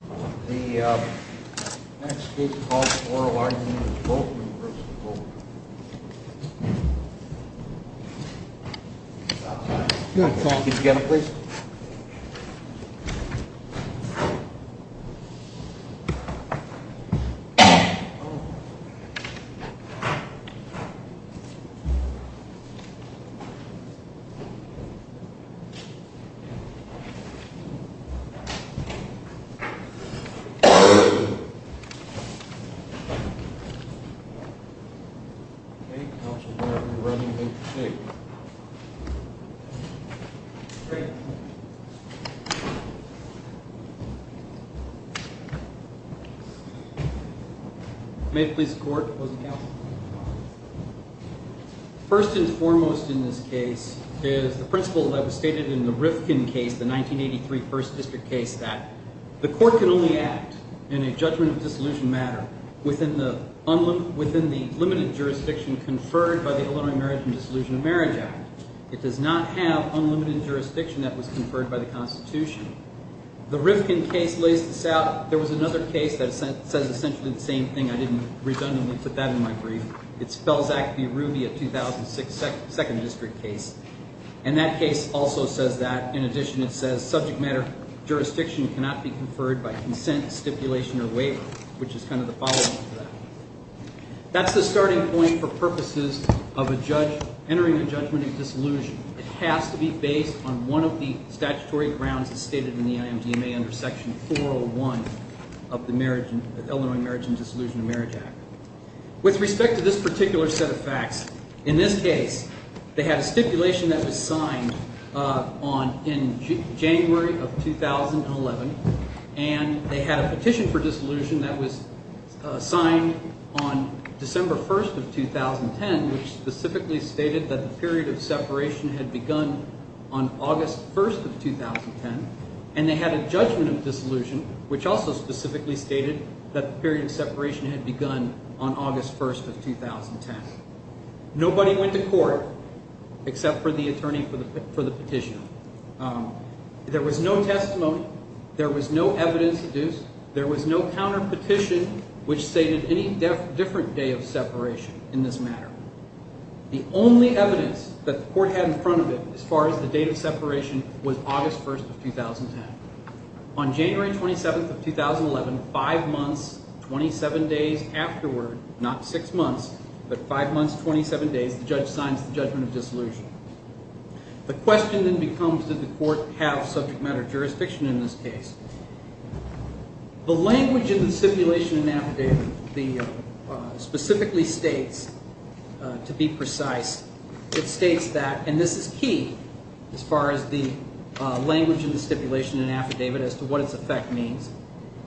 The next case calls for a warrant in the name of Volkmann v. Volkmann. Good. Thank you. May it please the court, opposing counsel. First and foremost in this case is the principle that was stated in the Rifkin case, the 1983 1st District case, that the court can only act in a judgment of dissolution matter within the limited jurisdiction conferred by the Illinois Marriage and Dissolution of Marriage Act. It does not have unlimited jurisdiction that was conferred by the Constitution. The Rifkin case lays this out. There was another case that says essentially the same thing. I didn't redundantly put that in my brief. It's Belzac v. Ruby, a 2006 2nd District case, and that case also says that. In addition, it says subject matter jurisdiction cannot be conferred by consent, stipulation, or waiver, which is kind of the following for that. That's the starting point for purposes of a judge entering a judgment of dissolution. It has to be based on one of the statutory grounds that's stated in the IMDMA under Section 401 of the Illinois Marriage and Dissolution of Marriage Act. With respect to this particular set of facts, in this case, they had a stipulation that was signed on – in January of 2011. And they had a petition for dissolution that was signed on December 1st of 2010, which specifically stated that the period of separation had begun on August 1st of 2010. And they had a judgment of dissolution, which also specifically stated that the period of separation had begun on August 1st of 2010. Nobody went to court except for the attorney for the petition. There was no testimony. There was no evidence deduced. There was no counterpetition which stated any different day of separation in this matter. The only evidence that the court had in front of it as far as the date of separation was August 1st of 2010. On January 27th of 2011, five months, 27 days afterward – not six months, but five months, 27 days – the judge signs the judgment of dissolution. The question then becomes, did the court have subject matter jurisdiction in this case? The language in the stipulation and affidavit specifically states, to be precise, it states that – and this is key as far as the language in the stipulation and affidavit as to what its effect means –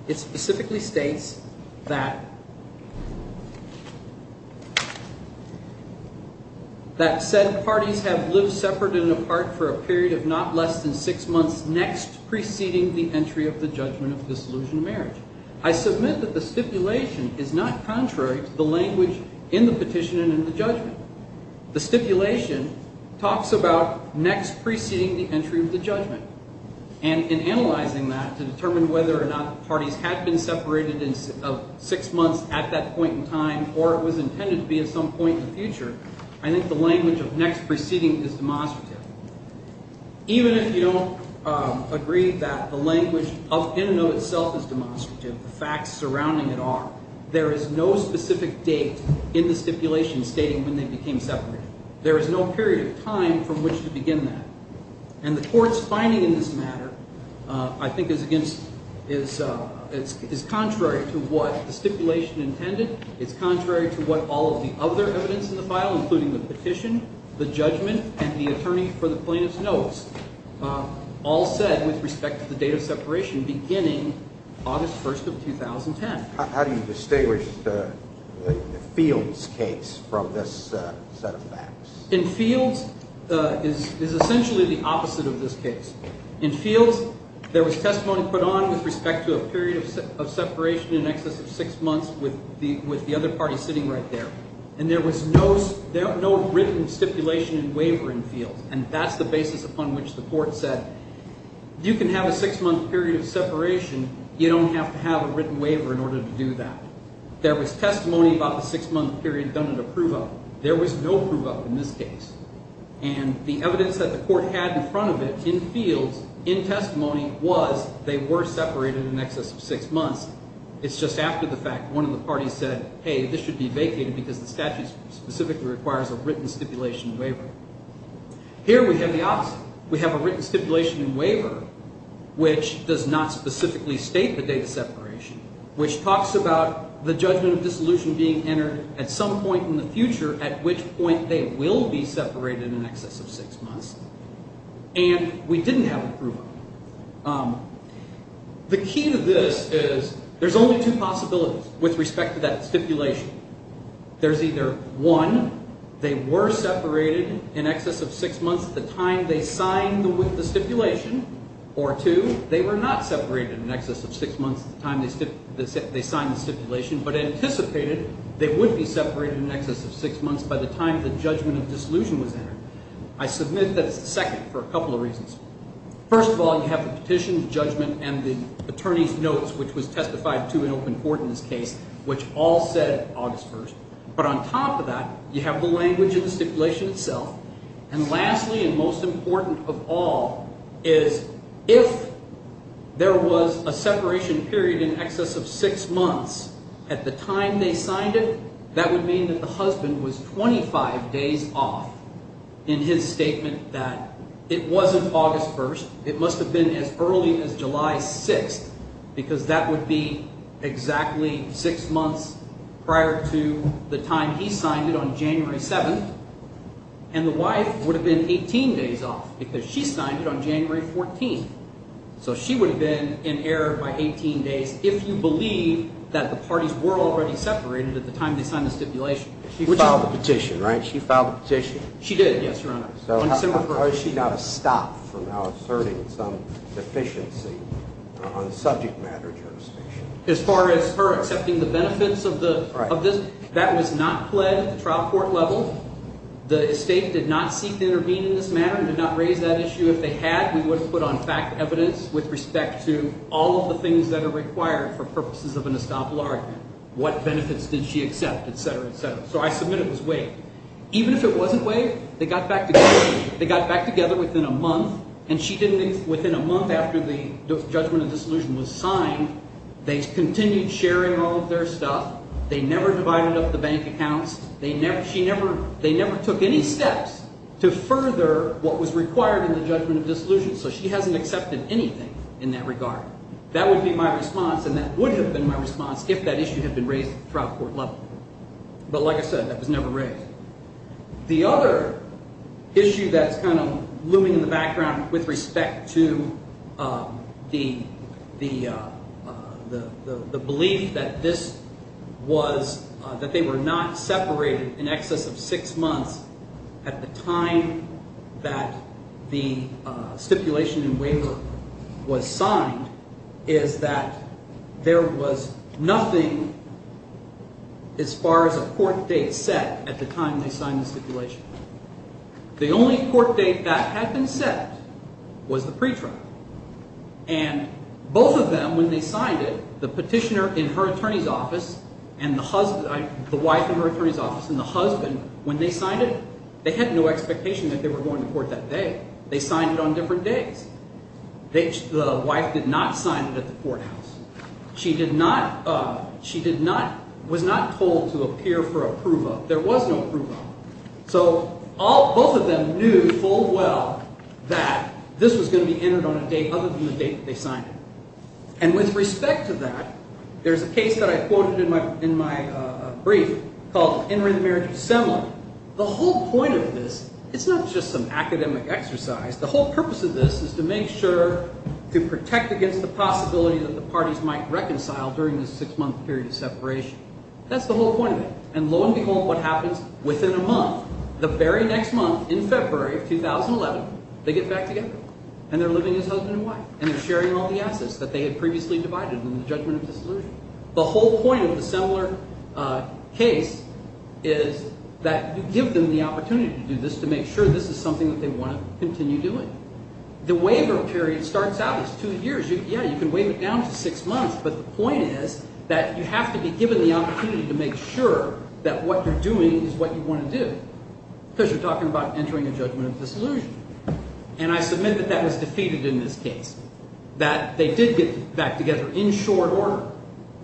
it specifically states that – that said parties have lived separate and apart for a period of not less than six months next preceding the entry of the judgment of dissolution of marriage. I submit that the stipulation is not contrary to the language in the petition and in the judgment. The stipulation talks about next preceding the entry of the judgment, and in analyzing that to determine whether or not parties had been separated of six months at that point in time or it was intended to be at some point in the future, I think the language of next preceding is demonstrative. Even if you don't agree that the language in and of itself is demonstrative, the facts surrounding it are, there is no specific date in the stipulation stating when they became separated. There is no period of time from which to begin that. And the court's finding in this matter I think is against – is contrary to what the stipulation intended. It's contrary to what all of the other evidence in the file, including the petition, the judgment, and the attorney for the plaintiff's notes, all said with respect to the date of separation beginning August 1st of 2010. How do you distinguish the Fields case from this set of facts? In Fields is essentially the opposite of this case. In Fields, there was testimony put on with respect to a period of separation in excess of six months with the other party sitting right there. And there was no written stipulation and waiver in Fields, and that's the basis upon which the court said you can have a six-month period of separation. You don't have to have a written waiver in order to do that. There was testimony about the six-month period done at approval. There was no approval in this case. And the evidence that the court had in front of it in Fields in testimony was they were separated in excess of six months. It's just after the fact one of the parties said, hey, this should be vacated because the statute specifically requires a written stipulation and waiver. Here we have the opposite. We have a written stipulation and waiver which does not specifically state the date of separation, which talks about the judgment of dissolution being entered at some point in the future at which point they will be separated in excess of six months. And we didn't have approval. The key to this is there's only two possibilities with respect to that stipulation. There's either one, they were separated in excess of six months at the time they signed the stipulation, or two, they were not separated in excess of six months at the time they signed the stipulation but anticipated they would be separated in excess of six months by the time the judgment of dissolution was entered. I submit that it's the second for a couple of reasons. First of all, you have the petition, the judgment, and the attorney's notes, which was testified to in open court in this case, which all said August 1st. But on top of that, you have the language of the stipulation itself. And lastly and most important of all is if there was a separation period in excess of six months at the time they signed it, that would mean that the husband was 25 days off in his statement that it wasn't August 1st. It must have been as early as July 6th because that would be exactly six months prior to the time he signed it on January 7th. And the wife would have been 18 days off because she signed it on January 14th. So she would have been in error by 18 days if you believe that the parties were already separated at the time they signed the stipulation. She filed the petition, right? She filed the petition. She did, yes, Your Honor. So how is she now to stop from now asserting some deficiency on the subject matter jurisdiction? As far as her accepting the benefits of this, that was not pled at the trial court level. The estate did not seek to intervene in this matter and did not raise that issue. If they had, we would have put on fact evidence with respect to all of the things that are required for purposes of an estoppel argument. What benefits did she accept, et cetera, et cetera. So I submit it was waived. Even if it wasn't waived, they got back together. They got back together within a month, and she didn't leave within a month after the judgment of dissolution was signed. They continued sharing all of their stuff. They never divided up the bank accounts. They never took any steps to further what was required in the judgment of dissolution, so she hasn't accepted anything in that regard. That would be my response, and that would have been my response if that issue had been raised at the trial court level. But like I said, that was never raised. The other issue that's kind of looming in the background with respect to the belief that this was – that they were not separated in excess of six months at the time that the stipulation and waiver was signed is that there was nothing as far as a court date set at the time that they were separated. The only court date that had been set was the pre-trial, and both of them, when they signed it, the petitioner in her attorney's office and the wife in her attorney's office and the husband, when they signed it, they had no expectation that they were going to court that day. They signed it on different days. The wife did not sign it at the courthouse. She did not – she did not – was not told to appear for approval. There was no approval. So both of them knew full well that this was going to be entered on a date other than the date that they signed it. And with respect to that, there's a case that I quoted in my brief called Entering the Marriage of Assembly. The whole point of this – it's not just some academic exercise. The whole purpose of this is to make sure – to protect against the possibility that the parties might reconcile during this six-month period of separation. That's the whole point of it. And lo and behold, what happens within a month, the very next month in February of 2011, they get back together, and they're living as husband and wife. And they're sharing all the assets that they had previously divided in the judgment of dissolution. The whole point of the similar case is that you give them the opportunity to do this to make sure this is something that they want to continue doing. The waiver period starts out as two years. Yeah, you can waive it down to six months, but the point is that you have to be given the opportunity to make sure that what you're doing is what you want to do because you're talking about entering a judgment of dissolution. And I submit that that was defeated in this case, that they did get back together in short order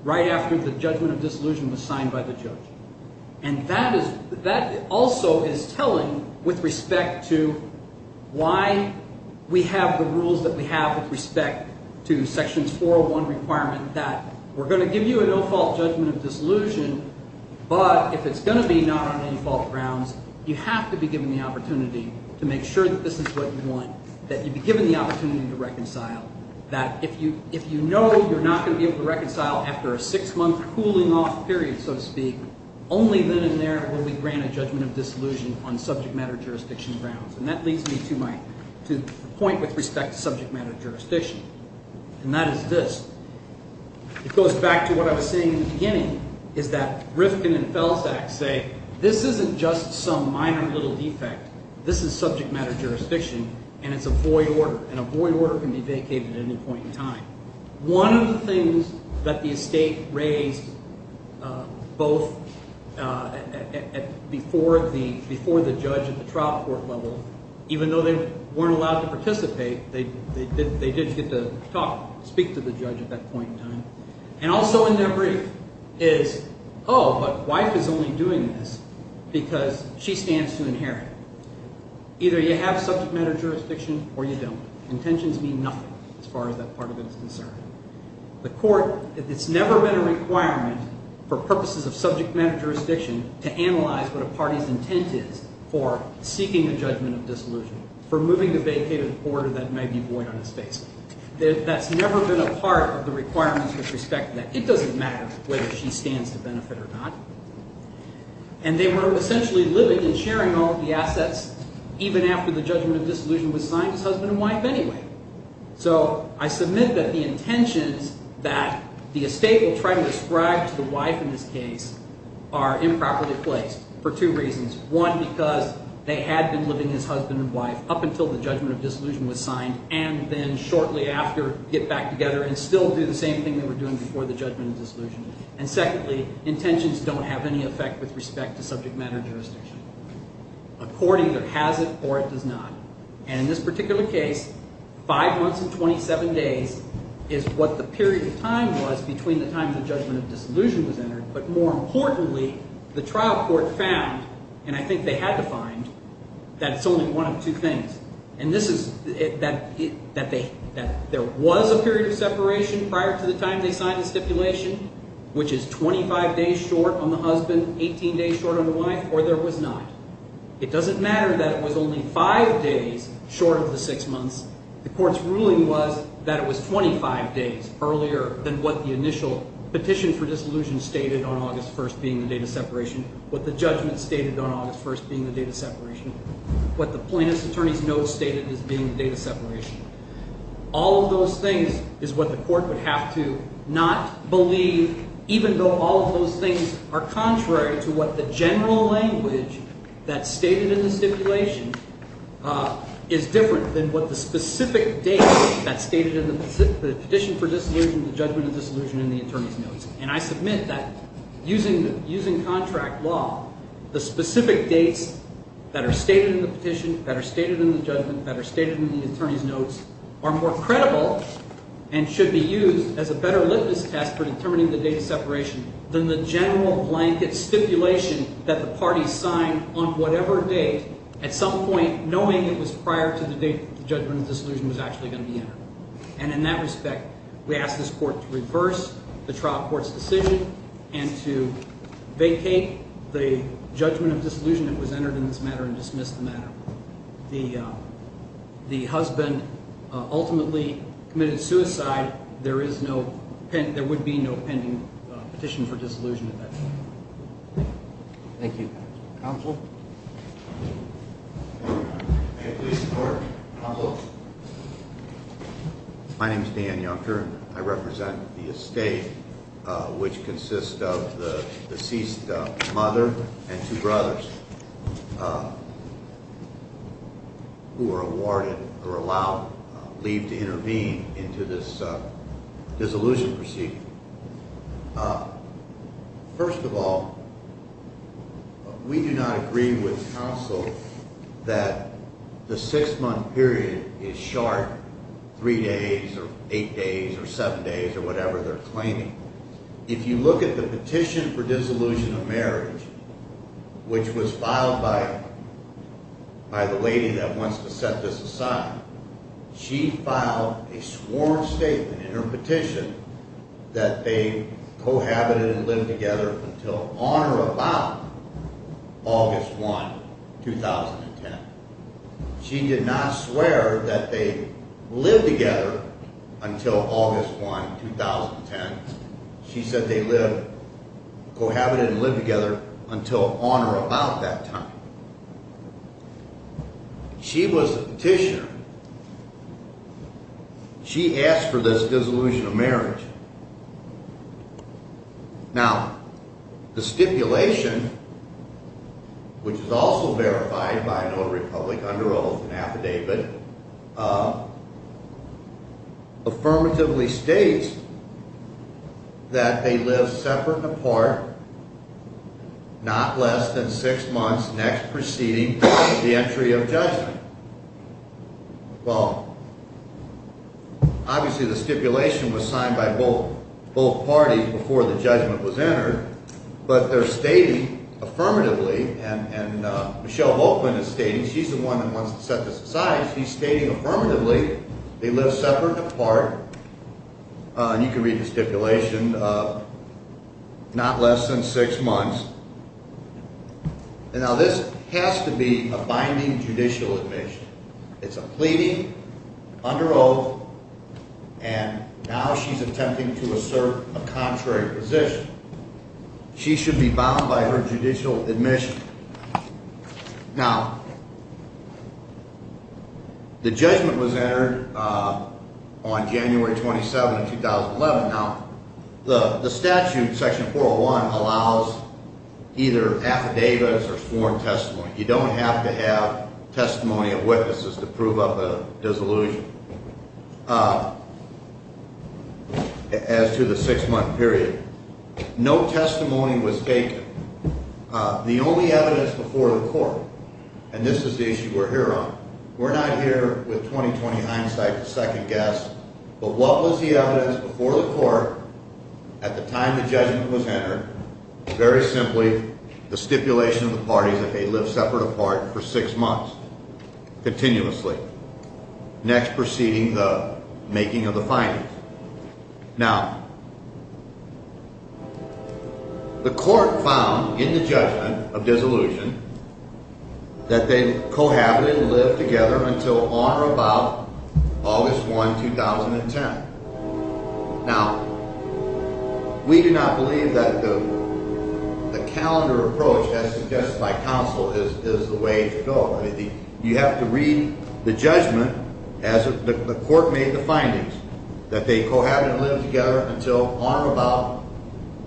right after the judgment of dissolution was signed by the judge. And that is – that also is telling with respect to why we have the rules that we have with respect to sections 401 requirement that we're going to give you a no-fault judgment of dissolution, but if it's going to be not on any fault grounds, you have to be given the opportunity to make sure that this is what you want, that you'd be given the opportunity to reconcile, that if you know you're not going to be able to reconcile after a six-month cooling-off period, so to speak, only then and there will we grant a judgment of dissolution on subject-matter jurisdiction grounds. And that leads me to my – to the point with respect to subject-matter jurisdiction, and that is this. It goes back to what I was saying in the beginning, is that Rifkin and Felsak say this isn't just some minor little defect. This is subject-matter jurisdiction, and it's a void order, and a void order can be vacated at any point in time. One of the things that the estate raised both at – before the judge at the trial court level, even though they weren't allowed to participate, they did get to talk – speak to the judge at that point in time. And also in their brief is, oh, but wife is only doing this because she stands to inherit. Either you have subject-matter jurisdiction or you don't. Intentions mean nothing as far as that part of it is concerned. The court – it's never been a requirement for purposes of subject-matter jurisdiction to analyze what a party's intent is for seeking a judgment of dissolution, for moving a vacated order that may be void on its face. That's never been a part of the requirements with respect to that. It doesn't matter whether she stands to benefit or not. And they were essentially living and sharing all of the assets even after the judgment of dissolution was signed as husband and wife anyway. So I submit that the intentions that the estate will try to describe to the wife in this case are improperly placed for two reasons. One, because they had been living as husband and wife up until the judgment of dissolution was signed and then shortly after get back together and still do the same thing they were doing before the judgment of dissolution. And secondly, intentions don't have any effect with respect to subject-matter jurisdiction. A court either has it or it does not. And in this particular case, five months and 27 days is what the period of time was between the time the judgment of dissolution was entered. But more importantly, the trial court found, and I think they had to find, that it's only one of two things. And this is that there was a period of separation prior to the time they signed the stipulation, which is 25 days short on the husband, 18 days short on the wife, or there was not. It doesn't matter that it was only five days short of the six months. The court's ruling was that it was 25 days earlier than what the initial petition for dissolution stated on August 1st being the date of separation, what the judgment stated on August 1st being the date of separation. What the plaintiff's attorney's notes stated as being the date of separation. All of those things is what the court would have to not believe, even though all of those things are contrary to what the general language that's stated in the stipulation is different than what the specific date that's stated in the petition for dissolution, the judgment of dissolution in the attorney's notes. And I submit that using contract law, the specific dates that are stated in the petition, that are stated in the judgment, that are stated in the attorney's notes are more credible and should be used as a better litmus test for determining the date of separation than the general blanket stipulation that the parties signed on whatever date at some point knowing it was prior to the date the judgment of dissolution was actually going to be entered. And in that respect, we ask this court to reverse the trial court's decision and to vacate the judgment of dissolution that was entered in this matter and dismiss the matter. The husband ultimately committed suicide. There would be no pending petition for dissolution at that time. Thank you. Counsel? My name is Dan Yonker. I represent the estate, which consists of the deceased mother and two brothers who were awarded or allowed leave to intervene into this dissolution proceeding. First of all, we do not agree with counsel that the six-month period is short, three days or eight days or seven days or whatever they're claiming. If you look at the petition for dissolution of marriage, which was filed by the lady that wants to set this aside, she filed a sworn statement in her petition that they cohabited and lived together until on or about August 1, 2010. She did not swear that they lived together until August 1, 2010. She said they cohabited and lived together until on or about that time. She was the petitioner. She asked for this dissolution of marriage. Now, the stipulation, which is also verified by an Old Republic under oath and affidavit, affirmatively states that they lived separate and apart not less than six months next preceding the entry of judgment. Well, obviously the stipulation was signed by both parties before the judgment was entered, but they're stating affirmatively, and Michelle Volkman is stating, she's the one that wants to set this aside, she's stating affirmatively they lived separate and apart. You can read the stipulation, not less than six months. Now, this has to be a binding judicial admission. It's a pleading under oath, and now she's attempting to assert a contrary position. She should be bound by her judicial admission. Now, the judgment was entered on January 27, 2011. Now, the statute, Section 401, allows either affidavits or sworn testimony. You don't have to have testimony of witnesses to prove up a dissolution. As to the six-month period, no testimony was taken. The only evidence before the court, and this is the issue we're here on, we're not here with 20-20 hindsight to second-guess, but what was the evidence before the court at the time the judgment was entered? Very simply, the stipulation of the parties that they lived separate and apart for six months, continuously, next preceding the making of the findings. Now, the court found in the judgment of dissolution that they cohabited and lived together until on or about August 1, 2010. Now, we do not believe that the calendar approach as suggested by counsel is the way to go. You have to read the judgment as the court made the findings, that they cohabited and lived together until on or about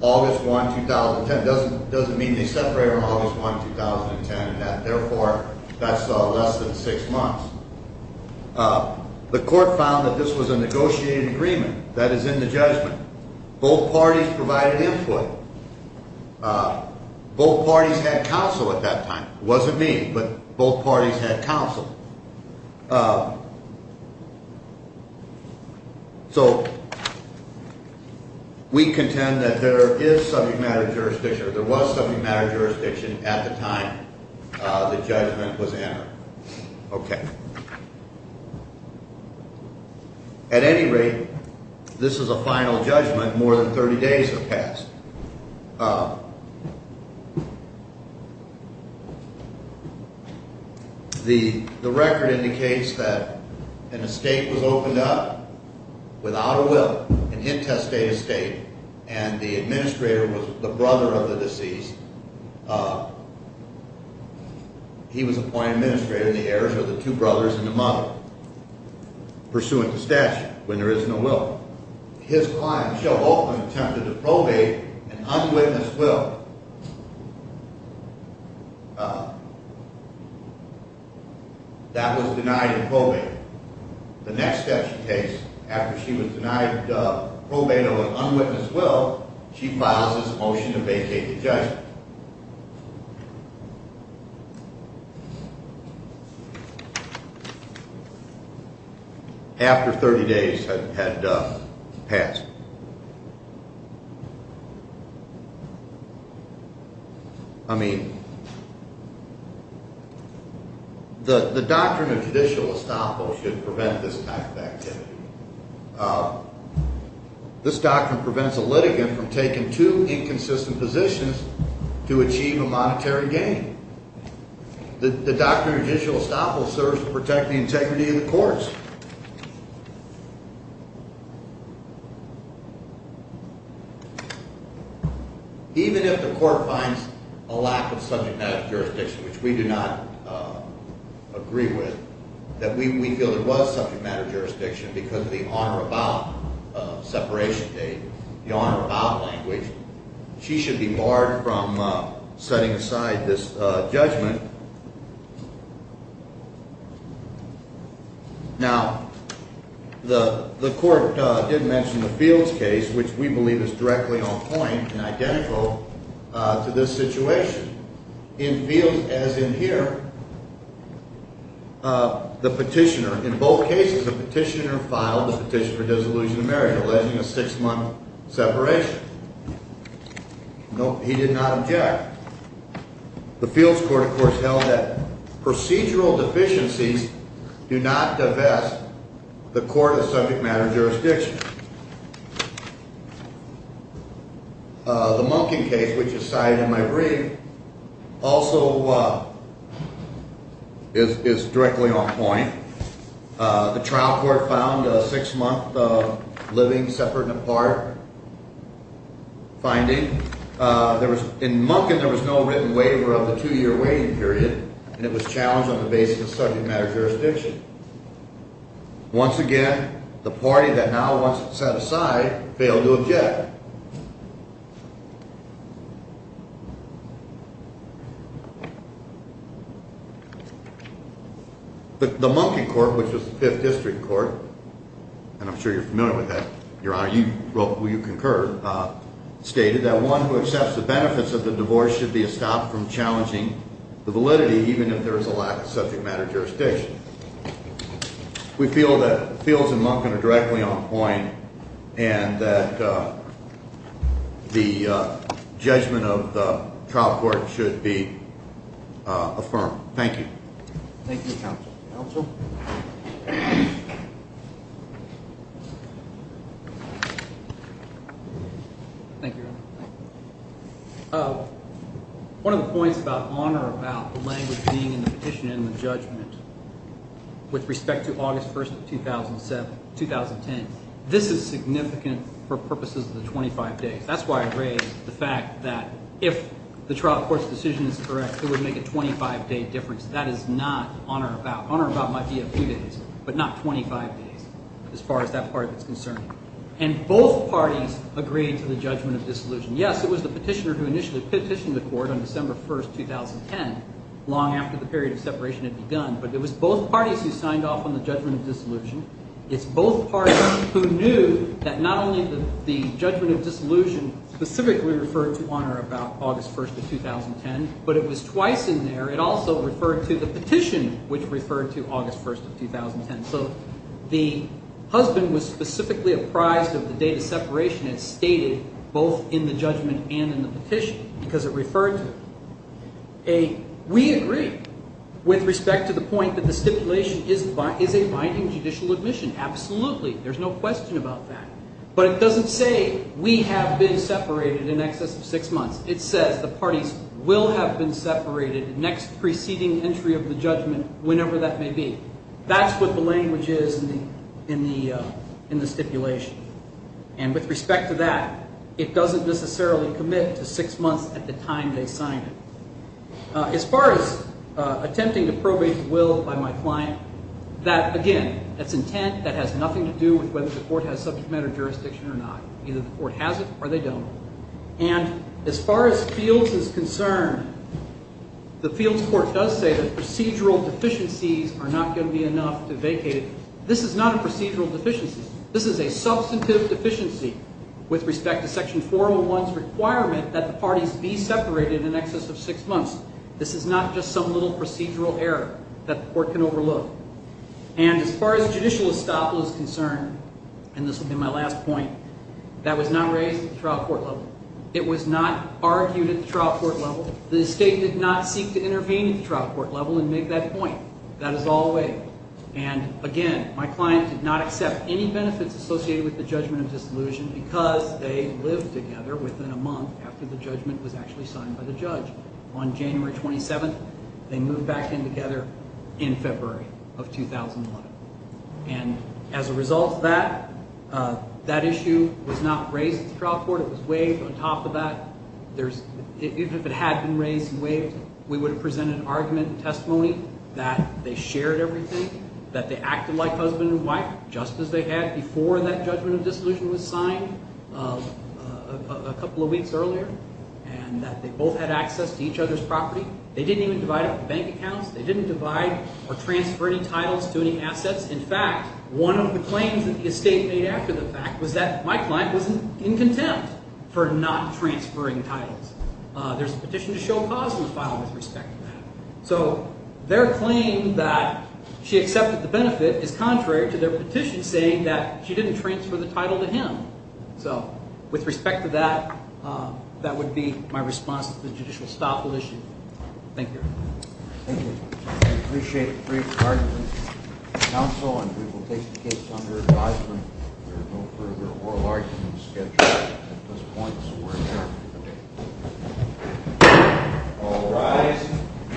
August 1, 2010. It doesn't mean they separated on August 1, 2010. Therefore, that's less than six months. The court found that this was a negotiated agreement. That is in the judgment. Both parties provided input. Both parties had counsel at that time. It wasn't me, but both parties had counsel. So we contend that there is subject matter jurisdiction, or there was subject matter jurisdiction at the time the judgment was entered. Okay. At any rate, this is a final judgment. More than 30 days have passed. The record indicates that an estate was opened up without a will, an intestate estate, and the administrator was the brother of the deceased. He was appointed administrator, and the heirs are the two brothers and the mother, pursuant to statute, when there is no will. His client, Michelle Hoffman, attempted to probate an unwitnessed will. That was denied in probate. The next step she takes after she was denied probate of an unwitnessed will, she files this motion to vacate the judgment. After 30 days had passed. I mean, the doctrine of judicial estoppel should prevent this type of activity. This doctrine prevents a litigant from taking two inconsistent positions to achieve a monetary gain. The doctrine of judicial estoppel serves to protect the integrity of the courts. Even if the court finds a lack of subject matter jurisdiction, which we do not agree with, that we feel there was subject matter jurisdiction because of the on or about separation date, the on or about language, she should be barred from setting aside this judgment. Now, the court did mention the Fields case, which we believe is directly on point and identical to this situation. In Fields, as in here, the petitioner, in both cases, the petitioner filed a petition for dissolution of marriage, alleging a six-month separation. He did not object. The Fields court, of course, held that procedural deficiencies do not divest the court of subject matter jurisdiction. The Munkin case, which is cited in my brief, also is directly on point. The trial court found a six-month living separate and apart finding. In Munkin, there was no written waiver of the two-year waiting period, and it was challenged on the basis of subject matter jurisdiction. Once again, the party that now wants it set aside failed to object. The Munkin court, which was the Fifth District court, and I'm sure you're familiar with that, Your Honor, you wrote, well, you concur, stated that one who accepts the benefits of the divorce should be stopped from challenging the validity, even if there is a lack of subject matter jurisdiction. We feel that Fields and Munkin are directly on point and that the judgment of the trial court should be affirmed. Thank you. Thank you, counsel. Thank you, Your Honor. One of the points about honor about the language being in the petition and the judgment with respect to August 1st of 2010, this is significant for purposes of the 25 days. That's why I raised the fact that if the trial court's decision is correct, it would make a 25-day difference. That is not honor about. Honor about might be a few days, but not 25 days as far as that part of it is concerned. And both parties agreed to the judgment of dissolution. Yes, it was the petitioner who initially petitioned the court on December 1st, 2010, long after the period of separation had begun, but it was both parties who signed off on the judgment of dissolution. It's both parties who knew that not only the judgment of dissolution specifically referred to honor about August 1st of 2010, but it was twice in there. It also referred to the petition, which referred to August 1st of 2010. So the husband was specifically apprised of the date of separation as stated both in the judgment and in the petition because it referred to it. We agree with respect to the point that the stipulation is a binding judicial admission. Absolutely. There's no question about that. But it doesn't say we have been separated in excess of six months. It says the parties will have been separated next preceding entry of the judgment whenever that may be. That's what the language is in the stipulation. And with respect to that, it doesn't necessarily commit to six months at the time they signed it. As far as attempting to probate the will by my client, that, again, that's intent. That has nothing to do with whether the court has subject matter jurisdiction or not. Either the court has it or they don't. And as far as Fields is concerned, the Fields court does say that procedural deficiencies are not going to be enough to vacate it. This is not a procedural deficiency. This is a substantive deficiency with respect to Section 401's requirement that the parties be separated in excess of six months. This is not just some little procedural error that the court can overlook. And as far as judicial estoppel is concerned, and this will be my last point, that was not raised at the trial court level. It was not argued at the trial court level. The state did not seek to intervene at the trial court level and make that point. That is all the way. And, again, my client did not accept any benefits associated with the judgment of disillusion because they lived together within a month after the judgment was actually signed by the judge. On January 27th, they moved back in together in February of 2001. And as a result of that, that issue was not raised at the trial court. It was waived. On top of that, even if it had been raised and waived, we would have presented an argument and testimony that they shared everything, that they acted like husband and wife just as they had before that judgment of disillusion was signed a couple of weeks earlier, and that they both had access to each other's property. They didn't even divide up the bank accounts. They didn't divide or transfer any titles to any assets. In fact, one of the claims that the estate made after the fact was that my client was in contempt for not transferring titles. There's a petition to show cause in the file with respect to that. So their claim that she accepted the benefit is contrary to their petition saying that she didn't transfer the title to him. So with respect to that, that would be my response to the judicial staff position. Thank you. Thank you. I appreciate the brief argument. Counsel, and we will take the case under advisement. There are no further oral arguments scheduled at this point, so we're adjourned. All rise.